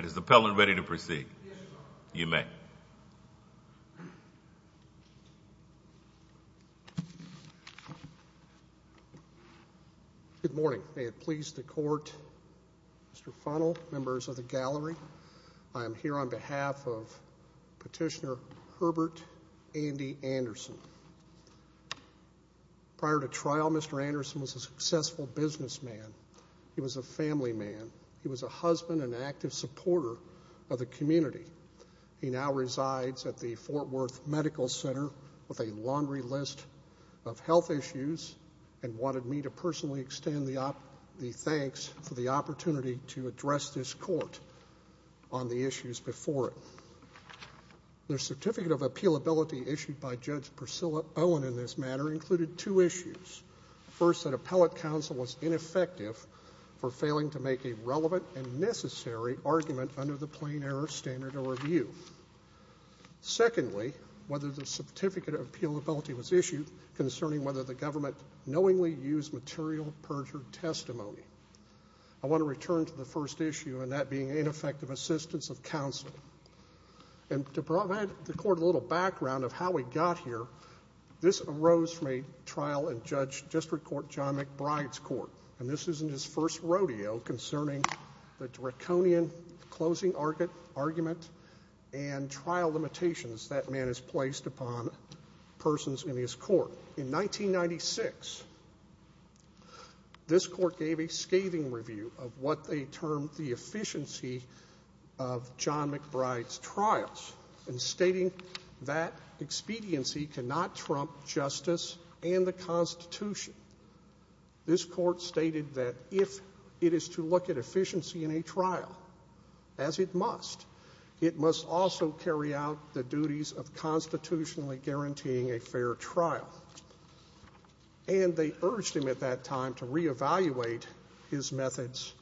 Good morning, may it please the court, Mr. Funnell, members of the gallery, I am here on behalf of Petitioner Herbert Andy Anderson. Prior to trial, Mr. Anderson was a successful businessman, he was a family man, he was a husband and active supporter of the community. He now resides at the Fort Worth Medical Center with a laundry list of health issues and wanted me to personally extend the thanks for the opportunity to address this court on the issues before it. The certificate of appealability issued by Judge Priscilla Owen in this matter included two issues. First, that appellate counsel was ineffective for failing to make a relevant and necessary argument under the plain error standard of review. Secondly, whether the certificate of appealability was issued concerning whether the government knowingly used material perjured testimony. I want to return to the first issue and that being ineffective assistance of counsel. To provide the court a little background of how we got here, this arose from a trial in Judge District Court John McBride's court. This is in his first rodeo concerning the draconian closing argument and trial limitations that man has placed upon persons in his court. In 1996, this court gave a scathing review of what they termed the efficiency of John McBride's trials and stating that expediency cannot trump justice and the constitution. This court stated that if it is to look at efficiency in a trial, as it must, it must also carry out the duties of constitutionally guaranteeing a fair trial. And they urged him at that time to reevaluate his methods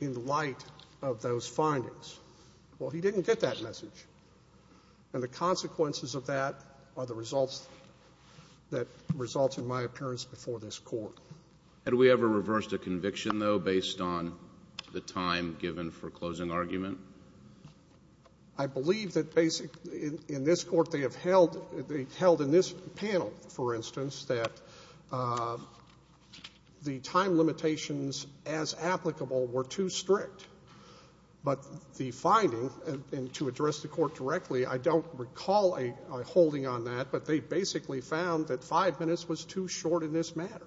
in light of those findings. Well, he didn't get that message. And the consequences of that are the results that result in my appearance before this court. Had we ever reversed a conviction, though, based on the time given for closing argument? I believe that basically in this court they have held in this panel, for instance, that the time limitations as applicable were too strict. But the finding, and to address the court directly, I don't recall a holding on that, but they basically found that five minutes was too short in this matter.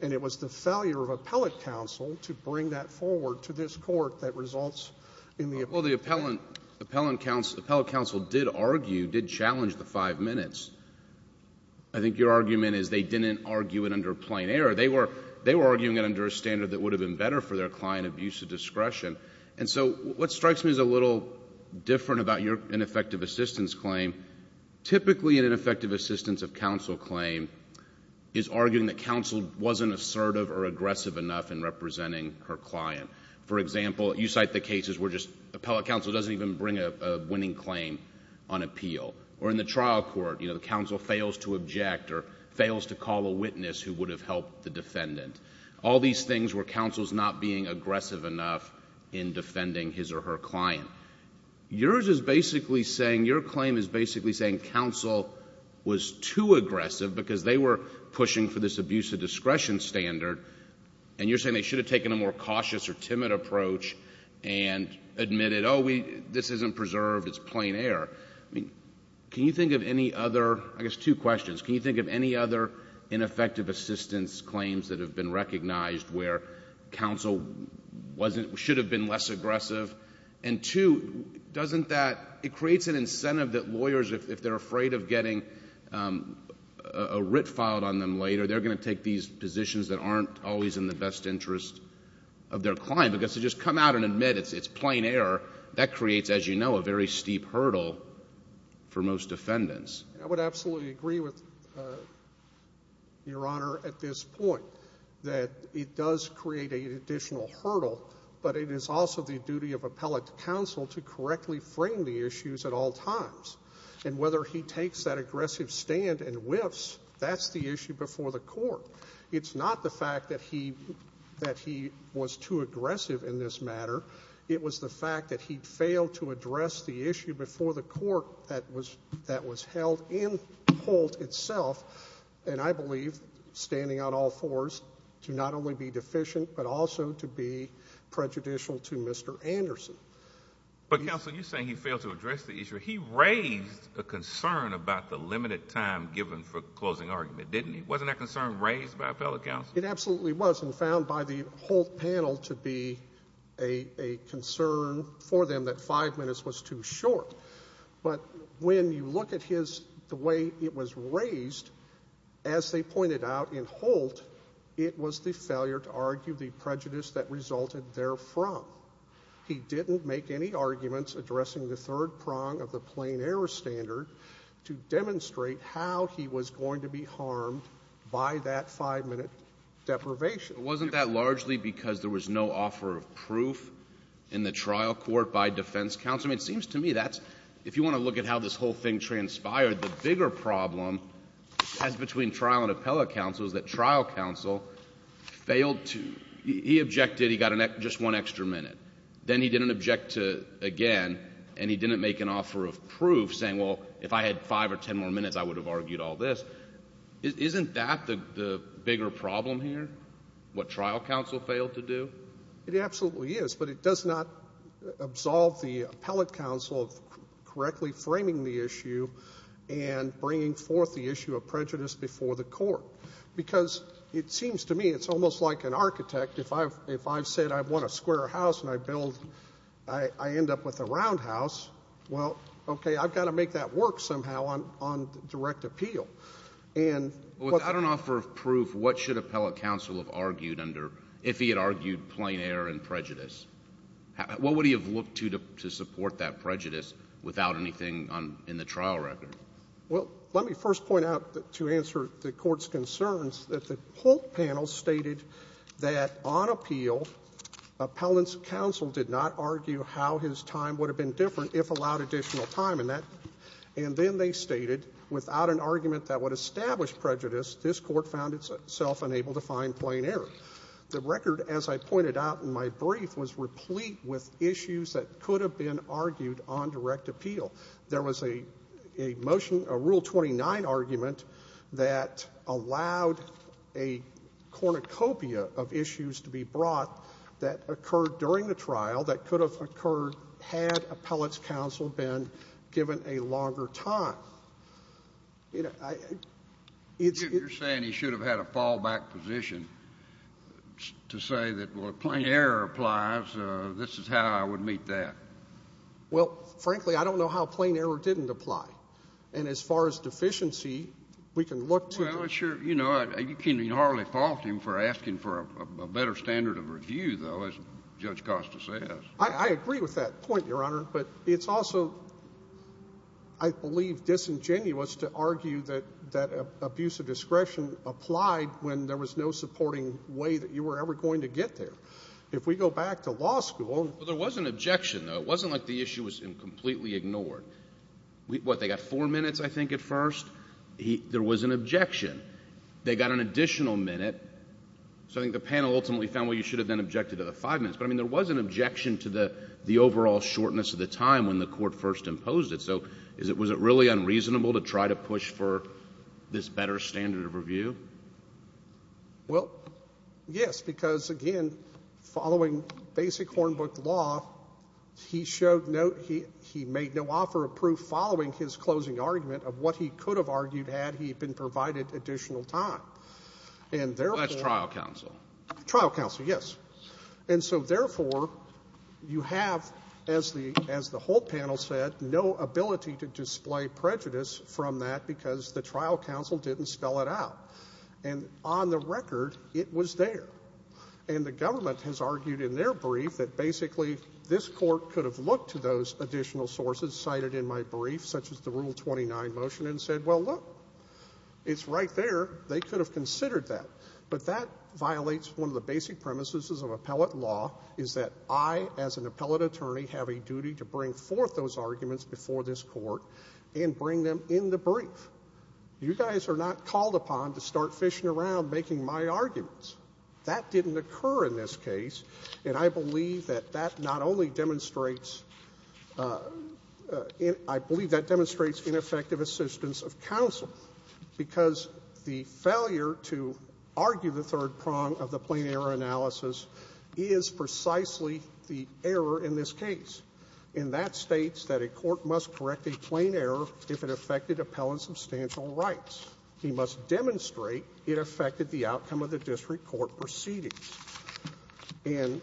And it was the failure of appellate counsel to bring that forward to this court that results in the five minutes. The appellate counsel did argue, did challenge the five minutes. I think your argument is they didn't argue it under plain error. They were arguing it under a standard that would have been better for their client abuse of discretion. And so what strikes me as a little different about your ineffective assistance claim, typically an ineffective assistance of counsel claim is arguing that counsel wasn't assertive or aggressive enough in representing her client. For example, you cite the cases where appellate counsel doesn't even bring a winning claim on appeal. Or in the trial court, the counsel fails to object or fails to call a witness who would have helped the defendant. All these things were counsel's not being aggressive enough in defending his or her client. Yours is basically saying, your claim is basically saying counsel was too aggressive because they were pushing for this abuse of discretion standard. And you're saying they should have taken a more cautious or timid approach and admitted, oh, this isn't preserved, it's plain error. Can you think of any other, I guess two questions, can you think of any other ineffective assistance claims that have been recognized where counsel should have been less aggressive? And two, doesn't that, it creates an incentive that lawyers, if they're afraid of getting a writ filed on them later, they're going to take these positions that aren't always in the best interest of their client. Because to just come out and admit it's plain error, that creates, as you know, a very steep hurdle for most defendants. I would absolutely agree with your honor at this point, that it does create an additional hurdle, but it is also the duty of appellate counsel to correctly frame the issues at all times. That's the issue before the court. It's not the fact that he was too aggressive in this matter, it was the fact that he failed to address the issue before the court that was held in Holt itself, and I believe, standing on all fours, to not only be deficient but also to be prejudicial to Mr. Anderson. But counsel, you're saying he failed to address the issue. He raised a concern about the limited time given for closing argument, didn't he? Wasn't that concern raised by appellate counsel? It absolutely was, and found by the Holt panel to be a concern for them that five minutes was too short. But when you look at the way it was raised, as they pointed out in Holt, it was the failure to argue the prejudice that resulted therefrom. He didn't make any argument how he was going to be harmed by that five-minute deprivation. But wasn't that largely because there was no offer of proof in the trial court by defense counsel? I mean, it seems to me that's, if you want to look at how this whole thing transpired, the bigger problem, as between trial and appellate counsel, is that trial counsel failed to, he objected, he got just one extra minute. Then he didn't object again, and he didn't make an offer of proof, saying, well, if I had five or ten more minutes, I would have argued all this. Isn't that the bigger problem here? What trial counsel failed to do? It absolutely is, but it does not absolve the appellate counsel of correctly framing the issue and bringing forth the issue of prejudice before the court. Because it seems to me, it's almost like an architect, if I've said I want a square house and I end up with a round house, well, okay, I've got to make that work somehow on direct appeal. Without an offer of proof, what should appellate counsel have argued under, if he had argued plain error and prejudice? What would he have looked to to support that prejudice without anything in the trial record? Let me first point out, to answer the court's concerns, that the whole panel stated that on appeal, appellant's counsel did not argue how his time would have been different if allowed additional time. And then they stated, without an argument that would establish prejudice, this court found itself unable to find plain error. The record, as I pointed out in my brief, was replete with issues that could have been argued on direct appeal. There was a motion, a Rule 29 argument, that allowed a cornucopia of issues to be brought that occurred during the trial that could have occurred had appellate's counsel been given a longer time. You're saying he should have had a fallback position to say that, well, if plain error applies, this is how I would meet that. Well, frankly, I don't know how plain error didn't apply. And as far as deficiency, we can look to... Well, I'm sure, you know, you can hardly fault him for asking for a better standard of review, though, as Judge Costa says. I agree with that point, Your Honor. But it's also, I believe, disingenuous to argue that abuse of discretion applied when there was no supporting way that you were ever going to get there. If we go back to law school... Well, there was an objection, though. It wasn't like the issue was completely ignored. What, they got four minutes, I think, at first? There was an objection. They got an additional minute. So I think the panel ultimately found, well, you should have then objected to the five minutes. But, I mean, there was an objection to the overall shortness of the time when the court first imposed it. So was it really unreasonable to try to push for this better standard of review? Well, yes, because, again, following basic Hornbook law, he showed no, he made no offer of proof following his closing argument of what he could have argued had he been provided additional time. And therefore... Well, that's trial counsel. Trial counsel, yes. And so, therefore, you have, as the whole panel said, no ability to display prejudice from that because the trial counsel didn't spell it out. And on the record, it was there. And the government has argued in their brief that basically this court could have looked to those additional sources cited in my brief, such as the Rule 29 motion, and said, well, look, it's right there. They could have considered that. But that violates one of the basic premises of appellate law, is that I, as an appellate attorney, have a duty to bring forth those arguments before this court and bring them in the brief. You guys are not called upon to start fishing around making my arguments. That didn't occur in this case. And I believe that that not only demonstrates, I believe that demonstrates ineffective assistance of counsel because the failure to argue the third argument in this case. And that states that a court must correct a plain error if it affected appellant substantial rights. He must demonstrate it affected the outcome of the district court proceedings. And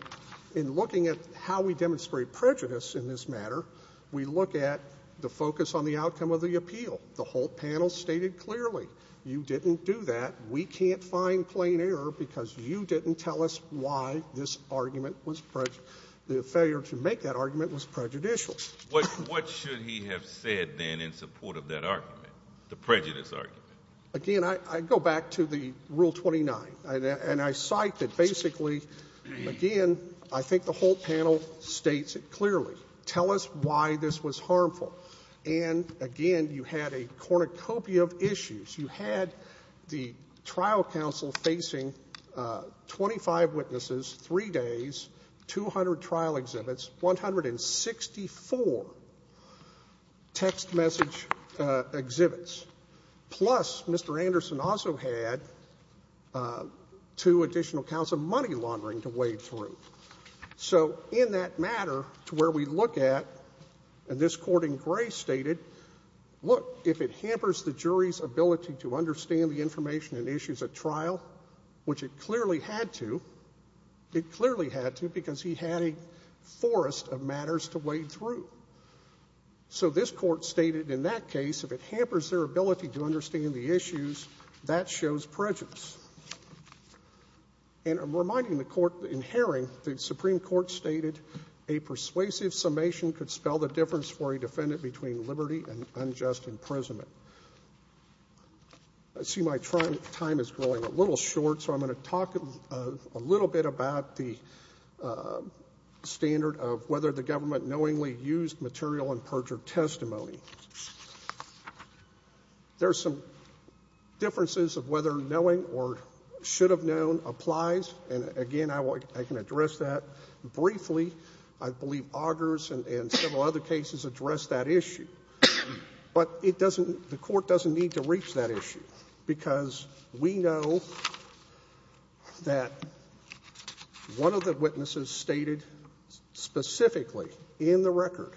in looking at how we demonstrate prejudice in this matter, we look at the focus on the outcome of the appeal. The whole panel stated clearly, you didn't do that. We can't find plain error because you didn't tell us why this argument was prejudiced. The failure to make that argument was prejudicial. What should he have said then in support of that argument, the prejudice argument? Again, I go back to the Rule 29. And I cite that basically, again, I think the whole panel states it clearly. Tell us why this was harmful. And again, you had a cornucopia of issues. You had the trial counsel facing 25 witnesses, 3 days, 200 trial exhibits, and you had a panel of 164 text message exhibits. Plus, Mr. Anderson also had two additional counts of money laundering to wade through. So in that matter, to where we look at, and this court in gray stated, look, if it hampers the jury's ability to understand the information and issues at trial, which it clearly had to, it clearly had to because he had a forest of matters to wade through. So this court stated in that case, if it hampers their ability to understand the issues, that shows prejudice. And reminding the court in Herring, the Supreme Court stated, a persuasive summation could spell the difference for a defendant between liberty and unjust imprisonment. I see my time is growing a little short, so I'm going to talk a little bit about the standard of whether the government knowingly used material and perjured testimony. There are some differences of whether knowing or should have known applies. And again, I can address that briefly. I believe Augers and several other cases address that issue. But the court doesn't need to reach that issue because we know that one of the witnesses stated specifically in the record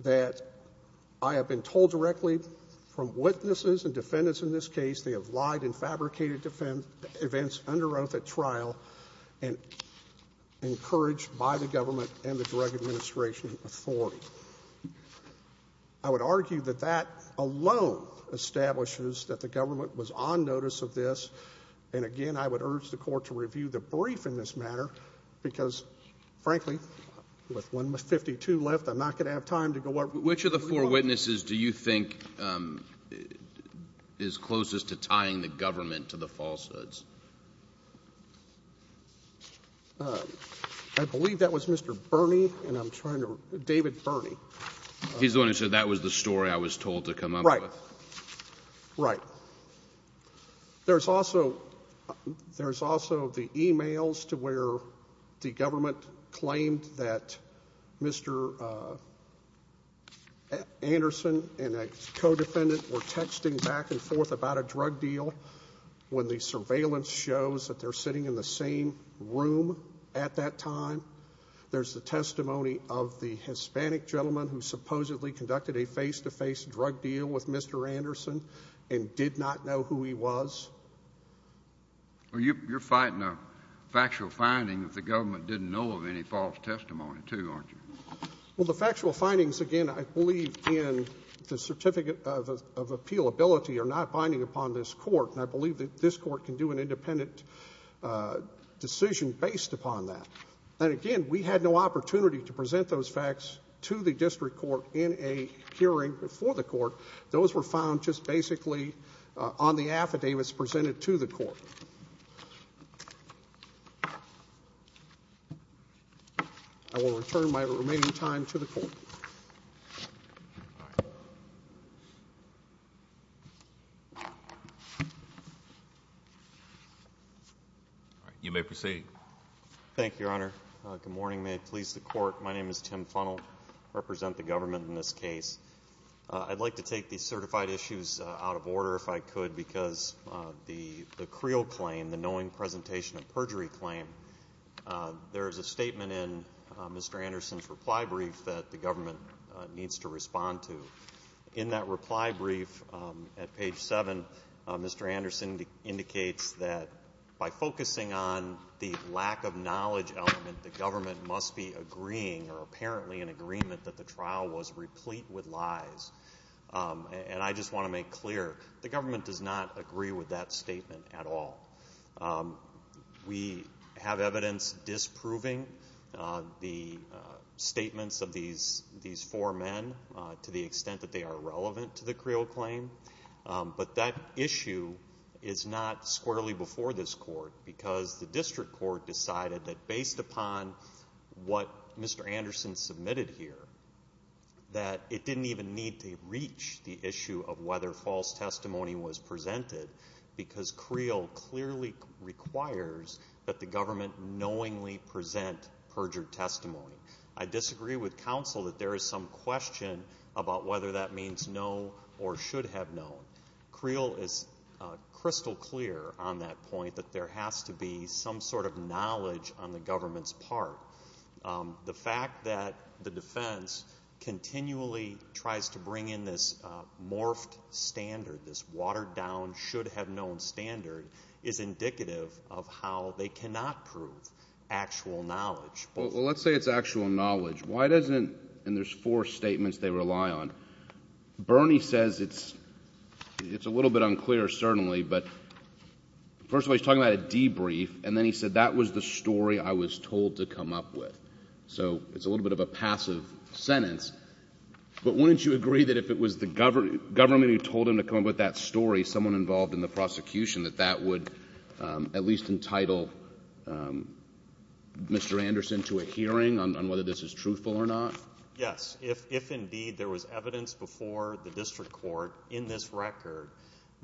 that I have been told directly from witnesses and defendants in this case, they have lied and fabricated events under oath at trial and encouraged by the government and the drug administration authority. I would argue that that alone establishes that the government was on notice of this. And again, I would urge the court to review the brief in this matter because frankly, with 152 left, I'm not going to have time to go over. Which of the four witnesses do you think is closest to tying the government to the falsehoods? I believe that was Mr. Bernie and I'm trying to, David Bernie. He's the one who said that was the story I was told to come up with. Right. There's also the emails to where the government claimed that Mr. Bernie was the one who said that Mr. Anderson and a co-defendant were texting back and forth about a drug deal when the surveillance shows that they're sitting in the same room at that time. There's the testimony of the Hispanic gentleman who supposedly conducted a face-to-face drug deal with Mr. Anderson and did not know who he was. You're fighting a factual finding that the government didn't know of any false testimony too, aren't you? Well, the factual findings, again, I believe in the certificate of appealability are not binding upon this court and I believe that this court can do an independent decision based upon that. And again, we had no opportunity to present those facts to the district court in a hearing before the court. Those were found just basically on the affidavits presented to the court. I will return my remaining time to the court. You may proceed. Thank you, Your Honor. Good morning. May it please the court, my name is Tim Funnell. I represent the government in this case. I'd like to take the certified issues out of order if I could because the Creel claim, the knowing presentation of perjury claim, there is a statement in Mr. Anderson's reply brief that the government needs to respond to. In that reply brief at page 7, Mr. Anderson indicates that by focusing on the lack of knowledge element, the government must be agreeing or apparently in agreement that the trial was unclear. The government does not agree with that statement at all. We have evidence disproving the statements of these four men to the extent that they are relevant to the Creel claim, but that issue is not squarely before this court because the district court decided that based upon what Mr. Anderson submitted here, that it didn't even need to reach the issue of whether false testimony was presented because Creel clearly requires that the government knowingly present perjured testimony. I disagree with counsel that there is some question about whether that means no or should have no. Creel is crystal clear on that point that there has to be some sort of knowledge on the government's part. The fact that the defense continually tries to bring in this morphed standard, this watered down, should have known standard is indicative of how they cannot prove actual knowledge. Well, let's say it's actual knowledge. Why doesn't, and there's four statements they rely on, Bernie says it's a little bit unclear certainly but first of all he's talking about a debrief and then he said that was the story I was told to come up with. So it's a little bit of a passive sentence, but wouldn't you agree that if it was the government who told him to come up with that story, someone involved in the prosecution, that that would at least entitle Mr. Anderson to a hearing on whether this is truthful or not? Yes, if indeed there was evidence before the district court in this record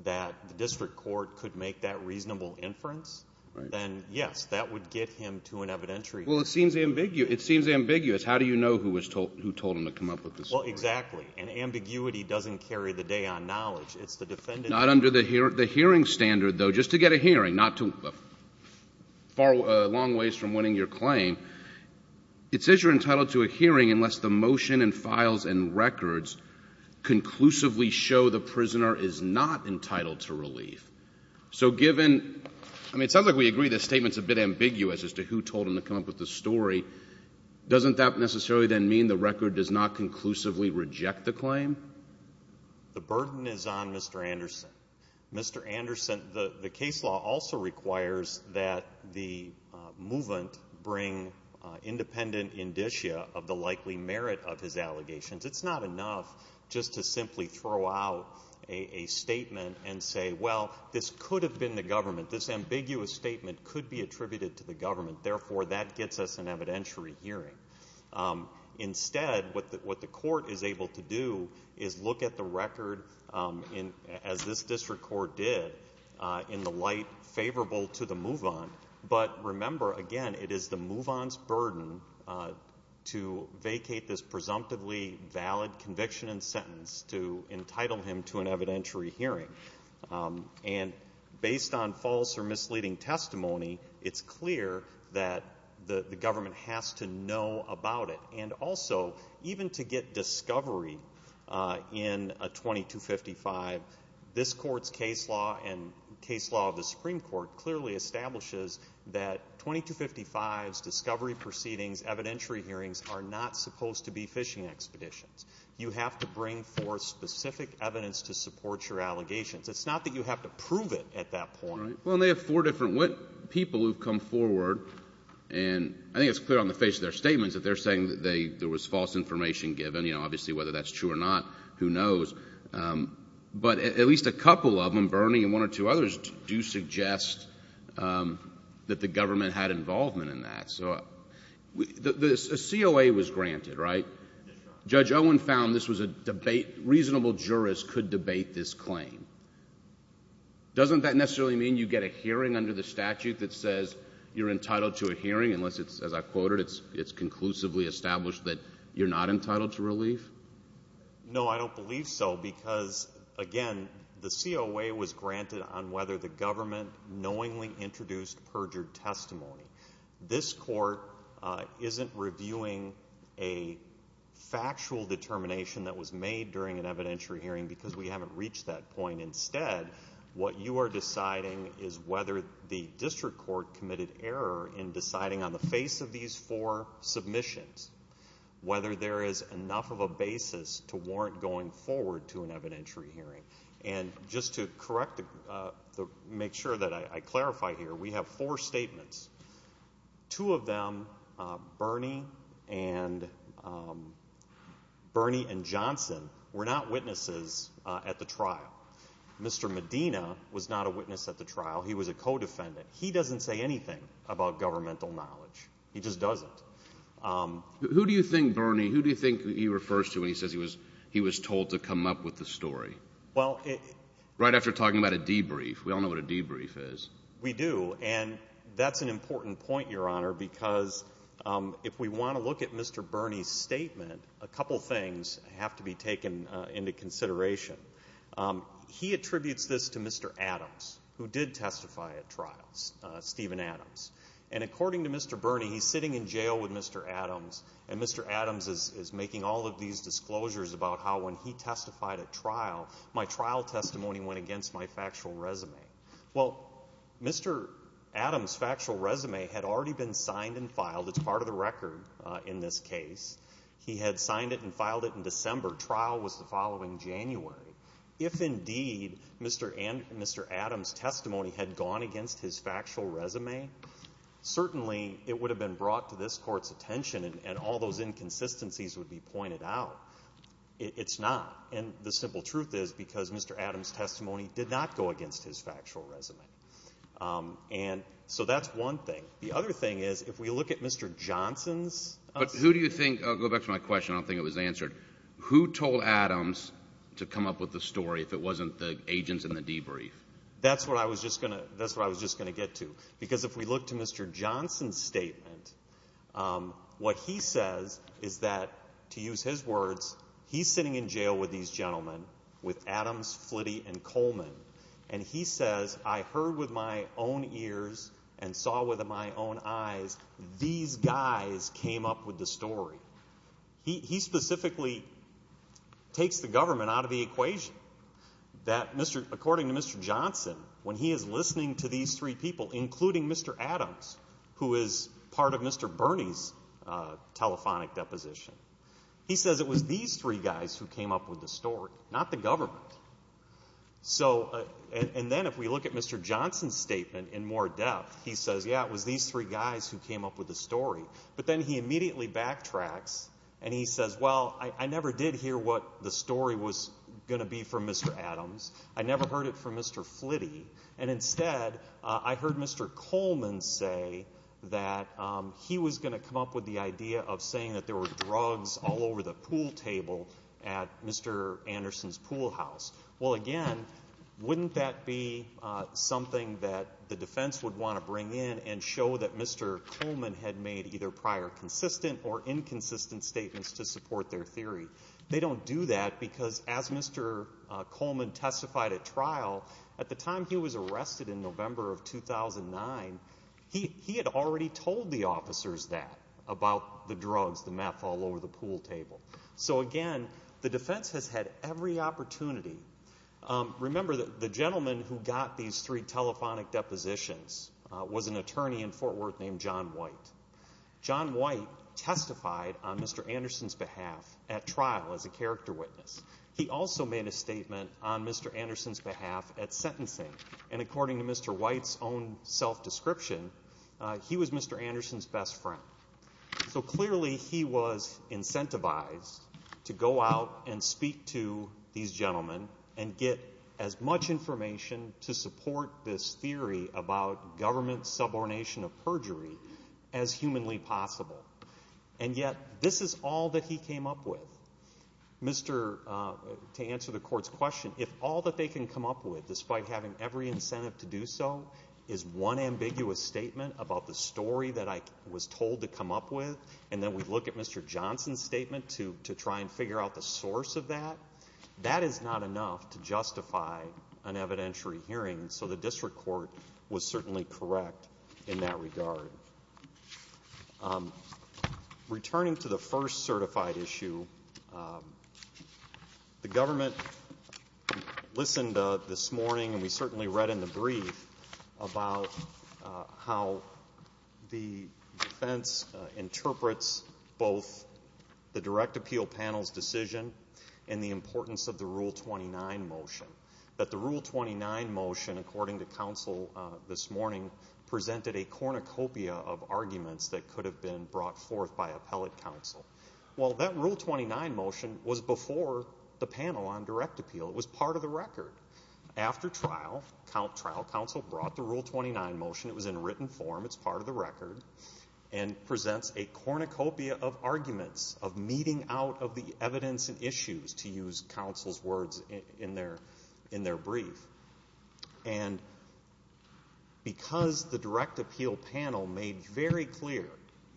that the district court could make that reasonable inference, then yes, that would get him to an evidentiary hearing. Well, it seems ambiguous. How do you know who told him to come up with this story? Well, exactly, and ambiguity doesn't carry the day on knowledge. It's the defendant. Not under the hearing standard, though, just to get a hearing, far long ways from winning your claim, it says you're entitled to a hearing unless the motion and files and records conclusively show the prisoner is not entitled to relief. So given, I mean, it sounds like we agree this statement's a bit ambiguous as to who told him to come up with the story. Doesn't that necessarily then mean the record does not conclusively reject the claim? The burden is on Mr. Anderson. Mr. Anderson, the case law also requires that the movement bring independent indicia of the likely merit of his allegations. It's not enough just to simply throw out a statement and say, well, this could have been the government. This ambiguous statement could be attributed to the government. Therefore, that gets us an evidentiary hearing. Instead, what the court is able to do is look at the record as this district court did in the light favorable to the move-on. But remember, again, it is the move-on's burden to vacate this presumptively valid conviction and sentence to entitle him to an evidentiary hearing. And based on false or misleading testimony, it's clear that the government has to know about it. And also, even to get discovery in a 2255, this court's case law and case law of the Supreme Court clearly establishes that 2255s, discovery proceedings, evidentiary hearings are not supposed to be fishing expeditions. You have to bring forth specific evidence to support your allegations. It's not that you have to prove it at that point. Well, and they have four different people who have come forward, and I think it's clear on the face of their statements that they're saying that there was false information given. Obviously, whether that's true or not, who knows? But at least a couple of them, Bernie and one or two others, do suggest that the government had involvement in that. A COA was granted, right? Judge Owen found this was a debate. Reasonable jurists could debate this claim. Doesn't that necessarily mean you get a hearing under the statute that says you're entitled to a hearing unless it's, as I quoted, it's conclusively established that you're not entitled to relief? No, I don't believe so because, again, the COA was granted on whether the government knowingly introduced perjured testimony. This court isn't reviewing a factual determination that was made during an evidentiary hearing because we haven't reached that point. Instead, what you are deciding is whether the district court committed error in deciding on the face of these four submissions, whether there is enough of a basis to warrant going forward to an evidentiary hearing. Just to make sure that I clarify here, we have four statements. Two of them, Bernie and Johnson, were not witnesses at the trial. Mr. Medina was not a witness at the trial. He was a co-defendant. He doesn't say anything about governmental knowledge. He just doesn't. Who do you think, Bernie, who do you think he refers to when he says he was told to come up with the story? Right after talking about a debrief. We all know what a debrief is. We do, and that's an important point, Your Honor, because if we want to look at Mr. Bernie's statement, a couple things have to be taken into consideration. He attributes this to Mr. Bernie. He's sitting in jail with Mr. Adams, and Mr. Adams is making all of these disclosures about how when he testified at trial, my trial testimony went against my factual resume. Well, Mr. Adams' factual resume had already been signed and filed. It's part of the record in this case. He had signed it and filed it in December. Trial was the following January. If indeed Mr. Adams' testimony had gone against his factual resume, certainly it would have been brought to this Court's attention and all those inconsistencies would be pointed out. It's not, and the simple truth is because Mr. Adams' testimony did not go against his factual resume. And so that's one thing. The other thing is, if we look at Mr. Johnson's statement. But who do you think, I'll go back to my question, I don't think it was answered, who told Adams to come up with the story if it wasn't the agents in the debrief? That's what I was just going to get to, because if we look to Mr. Johnson's statement, what he says is that, to use his words, he's sitting in jail with these gentlemen, with Adams, Flitty, and Coleman, and he says, I heard with my own ears and saw with my own eyes, these guys came up with the story. He specifically takes the government out of the equation. That Mr., according to Mr. Johnson, when he is listening to these three people, including Mr. Adams, who is part of Mr. Bernie's telephonic deposition, he says it was these three guys who came up with the story, not the government. So, and then if we look at Mr. Johnson's statement in more depth, he says, yeah, it was these three guys who came up with the story. But then he immediately backtracks and he says, well, I never did hear what the story was going to be from Mr. Adams, I never heard it from Mr. Flitty, and Mr. Coleman say that he was going to come up with the idea of saying that there were drugs all over the pool table at Mr. Anderson's pool house. Well again, wouldn't that be something that the defense would want to bring in and show that Mr. Coleman had made either prior consistent or inconsistent statements to support their theory? They don't do that because as Mr. Coleman testified at trial, at the time he was arrested in November of 2009, he had already told the officers that, about the drugs, the meth, all over the pool table. So again, the defense has had every opportunity. Remember, the gentleman who got these three telephonic depositions was an attorney in Fort Worth named John White. John White testified on Mr. Anderson's behalf at trial as a character witness. He also made a statement on Mr. Anderson's behalf at sentencing. And according to Mr. White's own self-description, he was Mr. Anderson's best friend. So clearly he was incentivized to go out and speak to these gentlemen and get as much information to support this theory about government subordination of perjury as humanly possible. And yet, this is all that he came up with. To answer the court's question, if all that they can come up with, despite having every incentive to do so, is one ambiguous statement about the story that I was told to come up with, and then we look at Mr. Johnson's statement to try and figure out the source of that, that is not enough to justify an evidentiary hearing. So the district court was certainly correct in that regard. Returning to the first certified issue, the government listened this morning, and we certainly read in the brief about how the defense interprets both the direct appeal panel's decision and the importance of the Rule 29 motion. That the Rule 29 motion, according to counsel this morning, presented a cornucopia of arguments that could have been brought forth by appellate counsel. Well, that Rule 29 motion was before the panel on direct appeal. It was part of the record. After trial, trial counsel brought the Rule 29 motion, it was in written form, it's part of the record, and presents a cornucopia of arguments, of meeting out of the evidence and issues, to use counsel's words in their, in their brief. And because the direct appeal panel made very clear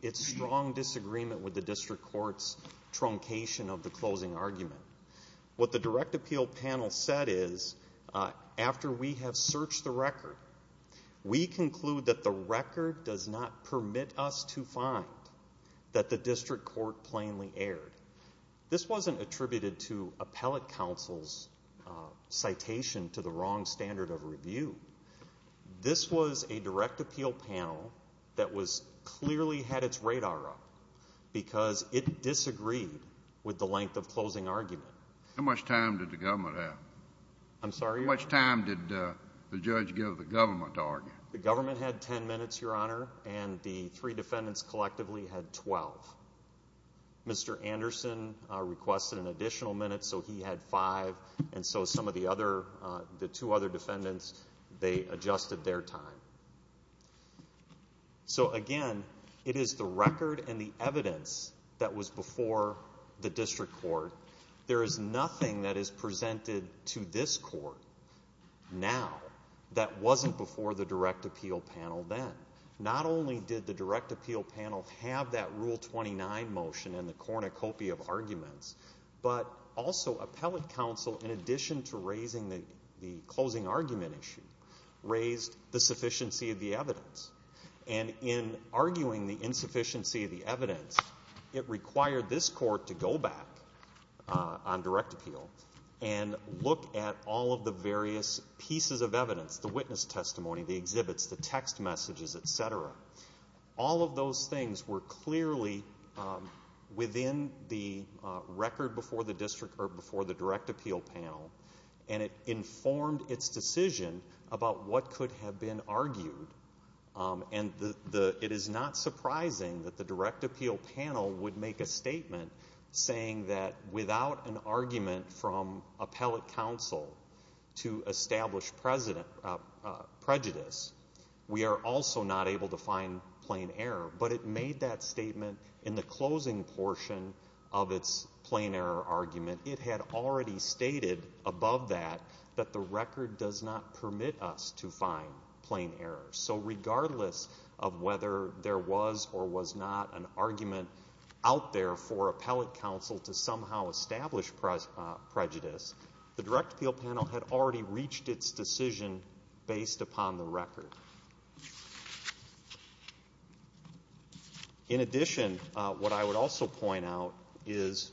its strong disagreement with the district court's truncation of the closing argument, what the direct appeal panel said is, after we have searched the record, we conclude that the record does not permit us to find that the district court plainly attributed to appellate counsel's citation to the wrong standard of review. This was a direct appeal panel that was, clearly had its radar up, because it disagreed with the length of closing argument. How much time did the government have? I'm sorry? How much time did the judge give the government to argue? The government had ten minutes, your Mr. Anderson requested an additional minute, so he had five, and so some of the other, the two other defendants, they adjusted their time. So again, it is the record and the evidence that was before the district court. There is nothing that is presented to this court now, that wasn't before the direct appeal panel then. Not only did the direct appeal panel have that Rule 29 motion and the cornucopia of arguments, but also appellate counsel, in addition to raising the closing argument issue, raised the sufficiency of the evidence. And in arguing the insufficiency of the evidence, it required this court to go back on direct appeal and look at all of the various pieces of evidence, the witness testimony, the exhibits, the text messages, etc. All of those things were clearly within the record before the district court, before the direct appeal panel, and it informed its decision about what could have been argued. And it is not surprising that the direct appeal panel would make a statement saying that without an argument from appellate counsel to establish prejudice, we are also not able to find plain error. But it made that statement in the closing portion of its plain error argument. It had already stated above that, that the record does not permit us to find plain error. So regardless of whether there was or was not an argument out there for appellate counsel to somehow establish prejudice, the direct appeal panel had already reached its decision based upon the record. In addition, what I would also point out is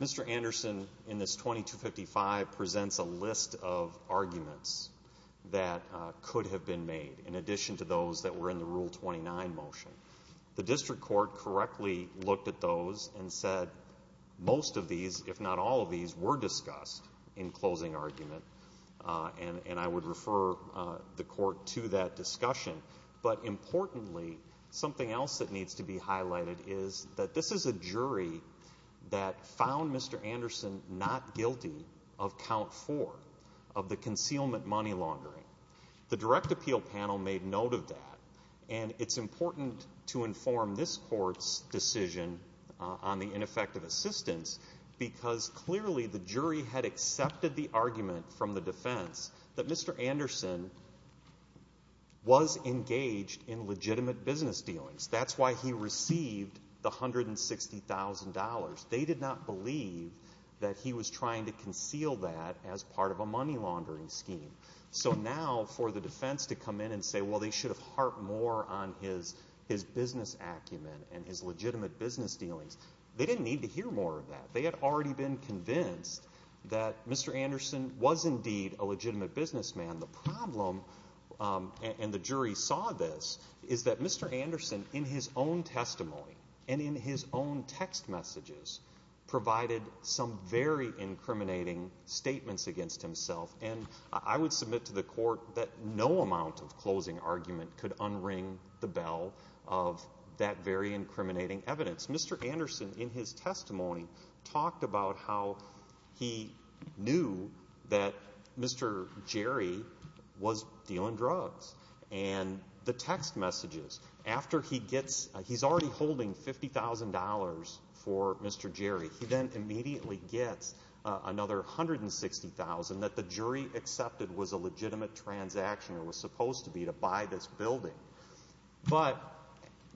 Mr. Anderson, in this 2255, presents a list of arguments that could have been made, in addition to those that were in the Rule 29 motion. The district court correctly looked at those and said most of these, if not all these, were discussed in closing argument. And I would refer the court to that discussion. But importantly, something else that needs to be highlighted is that this is a jury that found Mr. Anderson not guilty of count four of the concealment money laundering. The direct appeal panel made note of that. And it's important to inform this court's decision on the ineffective assistance, because clearly the jury had accepted the argument from the defense that Mr. Anderson was engaged in legitimate business dealings. That's why he received the $160,000. They did not believe that he was trying to conceal that as part of a money laundering scheme. So now for the defense to come in and say, well, they should have harped more on his business acumen and his legitimate business dealings, they didn't need to hear more of that. They had already been convinced that Mr. Anderson was indeed a legitimate businessman. The problem, and the jury saw this, is that Mr. Anderson, in his own testimony and in his own text messages, provided some very incriminating statements against himself. And I would submit to the court that no amount of closing argument could unring the bell of that very incriminating evidence. Mr. Anderson, in his testimony, talked about how he knew that Mr. Jerry was dealing drugs. And the text messages, after he gets he's already holding $50,000 for Mr. Jerry, he then immediately gets another $160,000 that the jury accepted was a legitimate transaction, or was supposed to be, to buy this building. But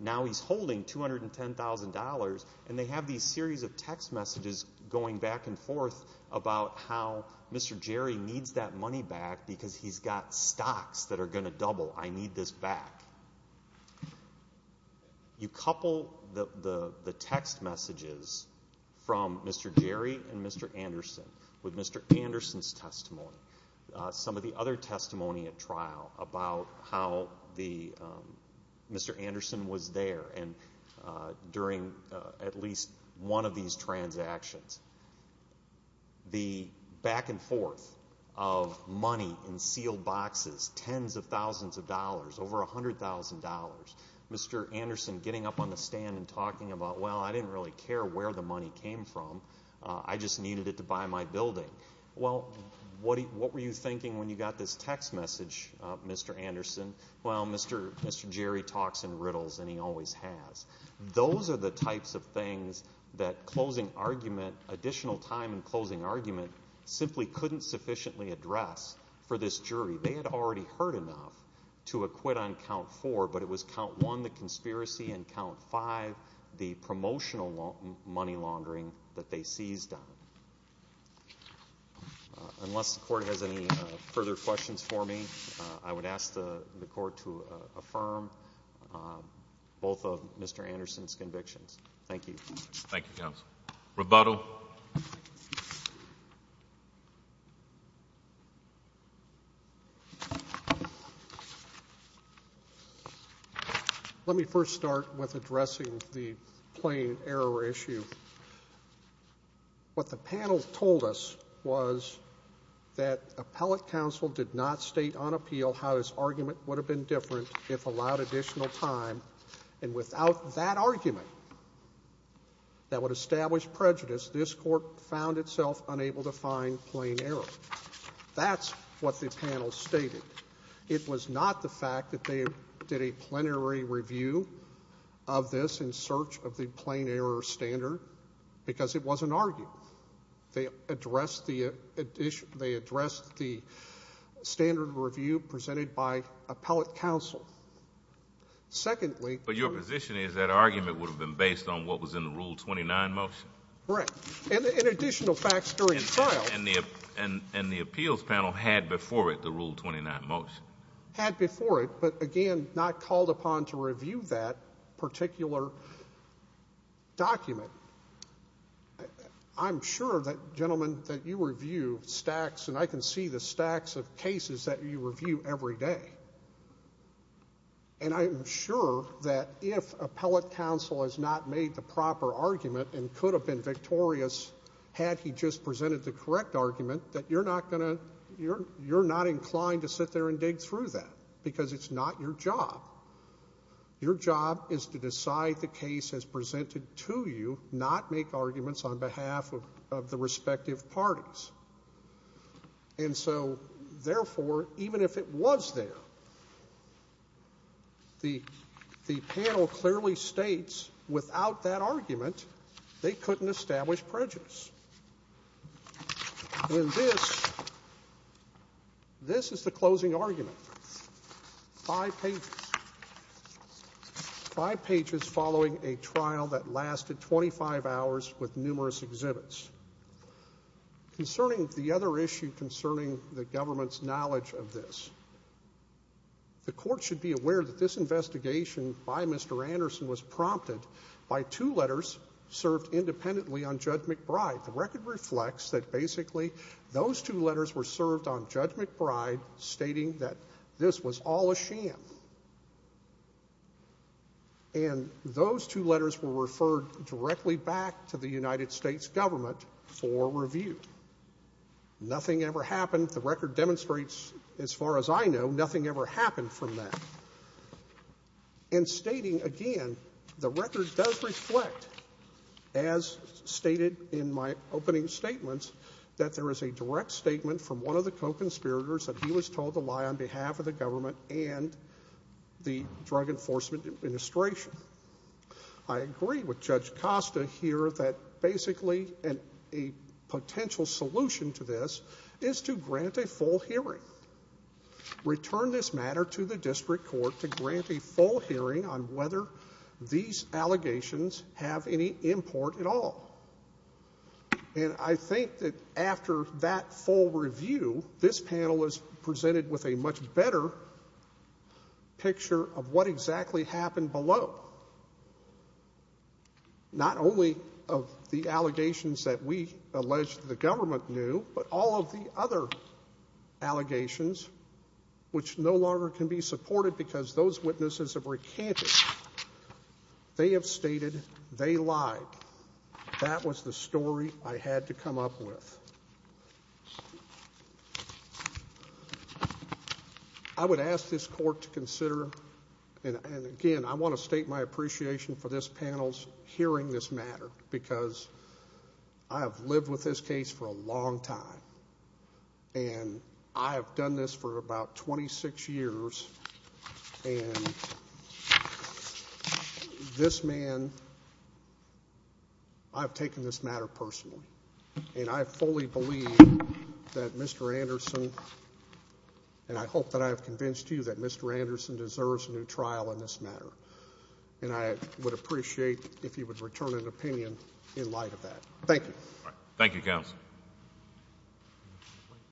now he's holding $210,000, and they have these series of text messages going back and forth about how Mr. Jerry needs that money back because he's got stocks that are going to double. I need this back. You couple the text messages from Mr. Jerry and Mr. Anderson with Mr. Anderson's some of the other testimony at trial about how Mr. Anderson was there during at least one of these transactions. The back and forth of money in sealed boxes, tens of thousands of dollars, over $100,000, Mr. Anderson getting up on the stand and talking about, well, I didn't really care where the money came from. I just needed it to buy my building. Well, what were you thinking when you got this text message, Mr. Anderson? Well, Mr. Jerry talks in riddles, and he always has. Those are the types of things that closing argument, additional time in closing argument, simply couldn't sufficiently address for this jury. They had already heard enough to acquit on Count 4, but it was Count 1, the conspiracy, and Count 5, the promotional money laundering that they seized on him. Unless the court has any further questions for me, I would ask the court to affirm both of Mr. Anderson's convictions. Thank you. Thank you, counsel. Rebuttal. Let me first start with addressing the plain error issue. What the panel told us was that appellate counsel did not state on appeal how his argument would have been different if allowed additional time, and without that argument that would establish prejudice, this court found itself unable to find plain error. That's what the panel stated. It was not the fact that they did a plenary review of this in search of the plain error standard, because it wasn't argued. They addressed the standard review presented by appellate counsel. Secondly— But your position is that argument would have been based on what was in the Rule 29 motion? Correct. And additional facts during trial— And the appeals panel had before it the Rule 29 motion. Had before it, but again, not called upon to review that particular document. I'm sure that, gentlemen, that you review stacks—and I can see the stacks of cases that you review every day. And I'm sure that if appellate counsel has not made the proper argument and could have been victorious had he just presented the correct argument, that you're not going to—you're not inclined to sit there and dig through that, because it's not your job. Your job is to decide the case as presented to you, not make arguments on behalf of the respective parties. And so, therefore, even if it was there, the panel clearly states, without that argument, they couldn't establish prejudice. And this—this is the closing argument. Five pages. Five pages following a trial that lasted 25 hours with numerous exhibits. Concerning the other issue concerning the government's knowledge of this, the court should be aware that this investigation by Mr. Anderson was prompted by two letters served independently on Judge McBride. The record reflects that basically those two letters were served on Judge McBride stating that this was all a sham. And those two letters were referred directly back to the United States government for review. Nothing ever happened. The record demonstrates, as far as I know, nothing ever happened from that. And stating again, the record does reflect, as stated in my opening statements, that there is a direct statement from one of the co-conspirators that he was told to lie on behalf of the government and the Drug Enforcement Administration. I agree with Judge Costa here that basically a potential solution to this is to grant a full hearing. Return this matter to the district court to grant a full hearing on whether these allegations have any import at all. And I think that after that full review, this panel was presented with a much better picture of what exactly happened below. Not only of the allegations that we allege the government knew, but all of the other allegations which no longer can be supported because those witnesses have recanted. They have stated they lied. That was the story I had to come up with. I would ask this court to consider, and again, I want to state my appreciation for this panel's hearing this matter, because I have lived with this case for a long time. And I have done this for about 26 years. And this man I've taken this matter personally. And I fully believe that Mr. Anderson, and I hope that I have convinced you that Mr. Anderson deserves a new trial in this matter. And I would appreciate if you would return an opinion in light of that. Thank you.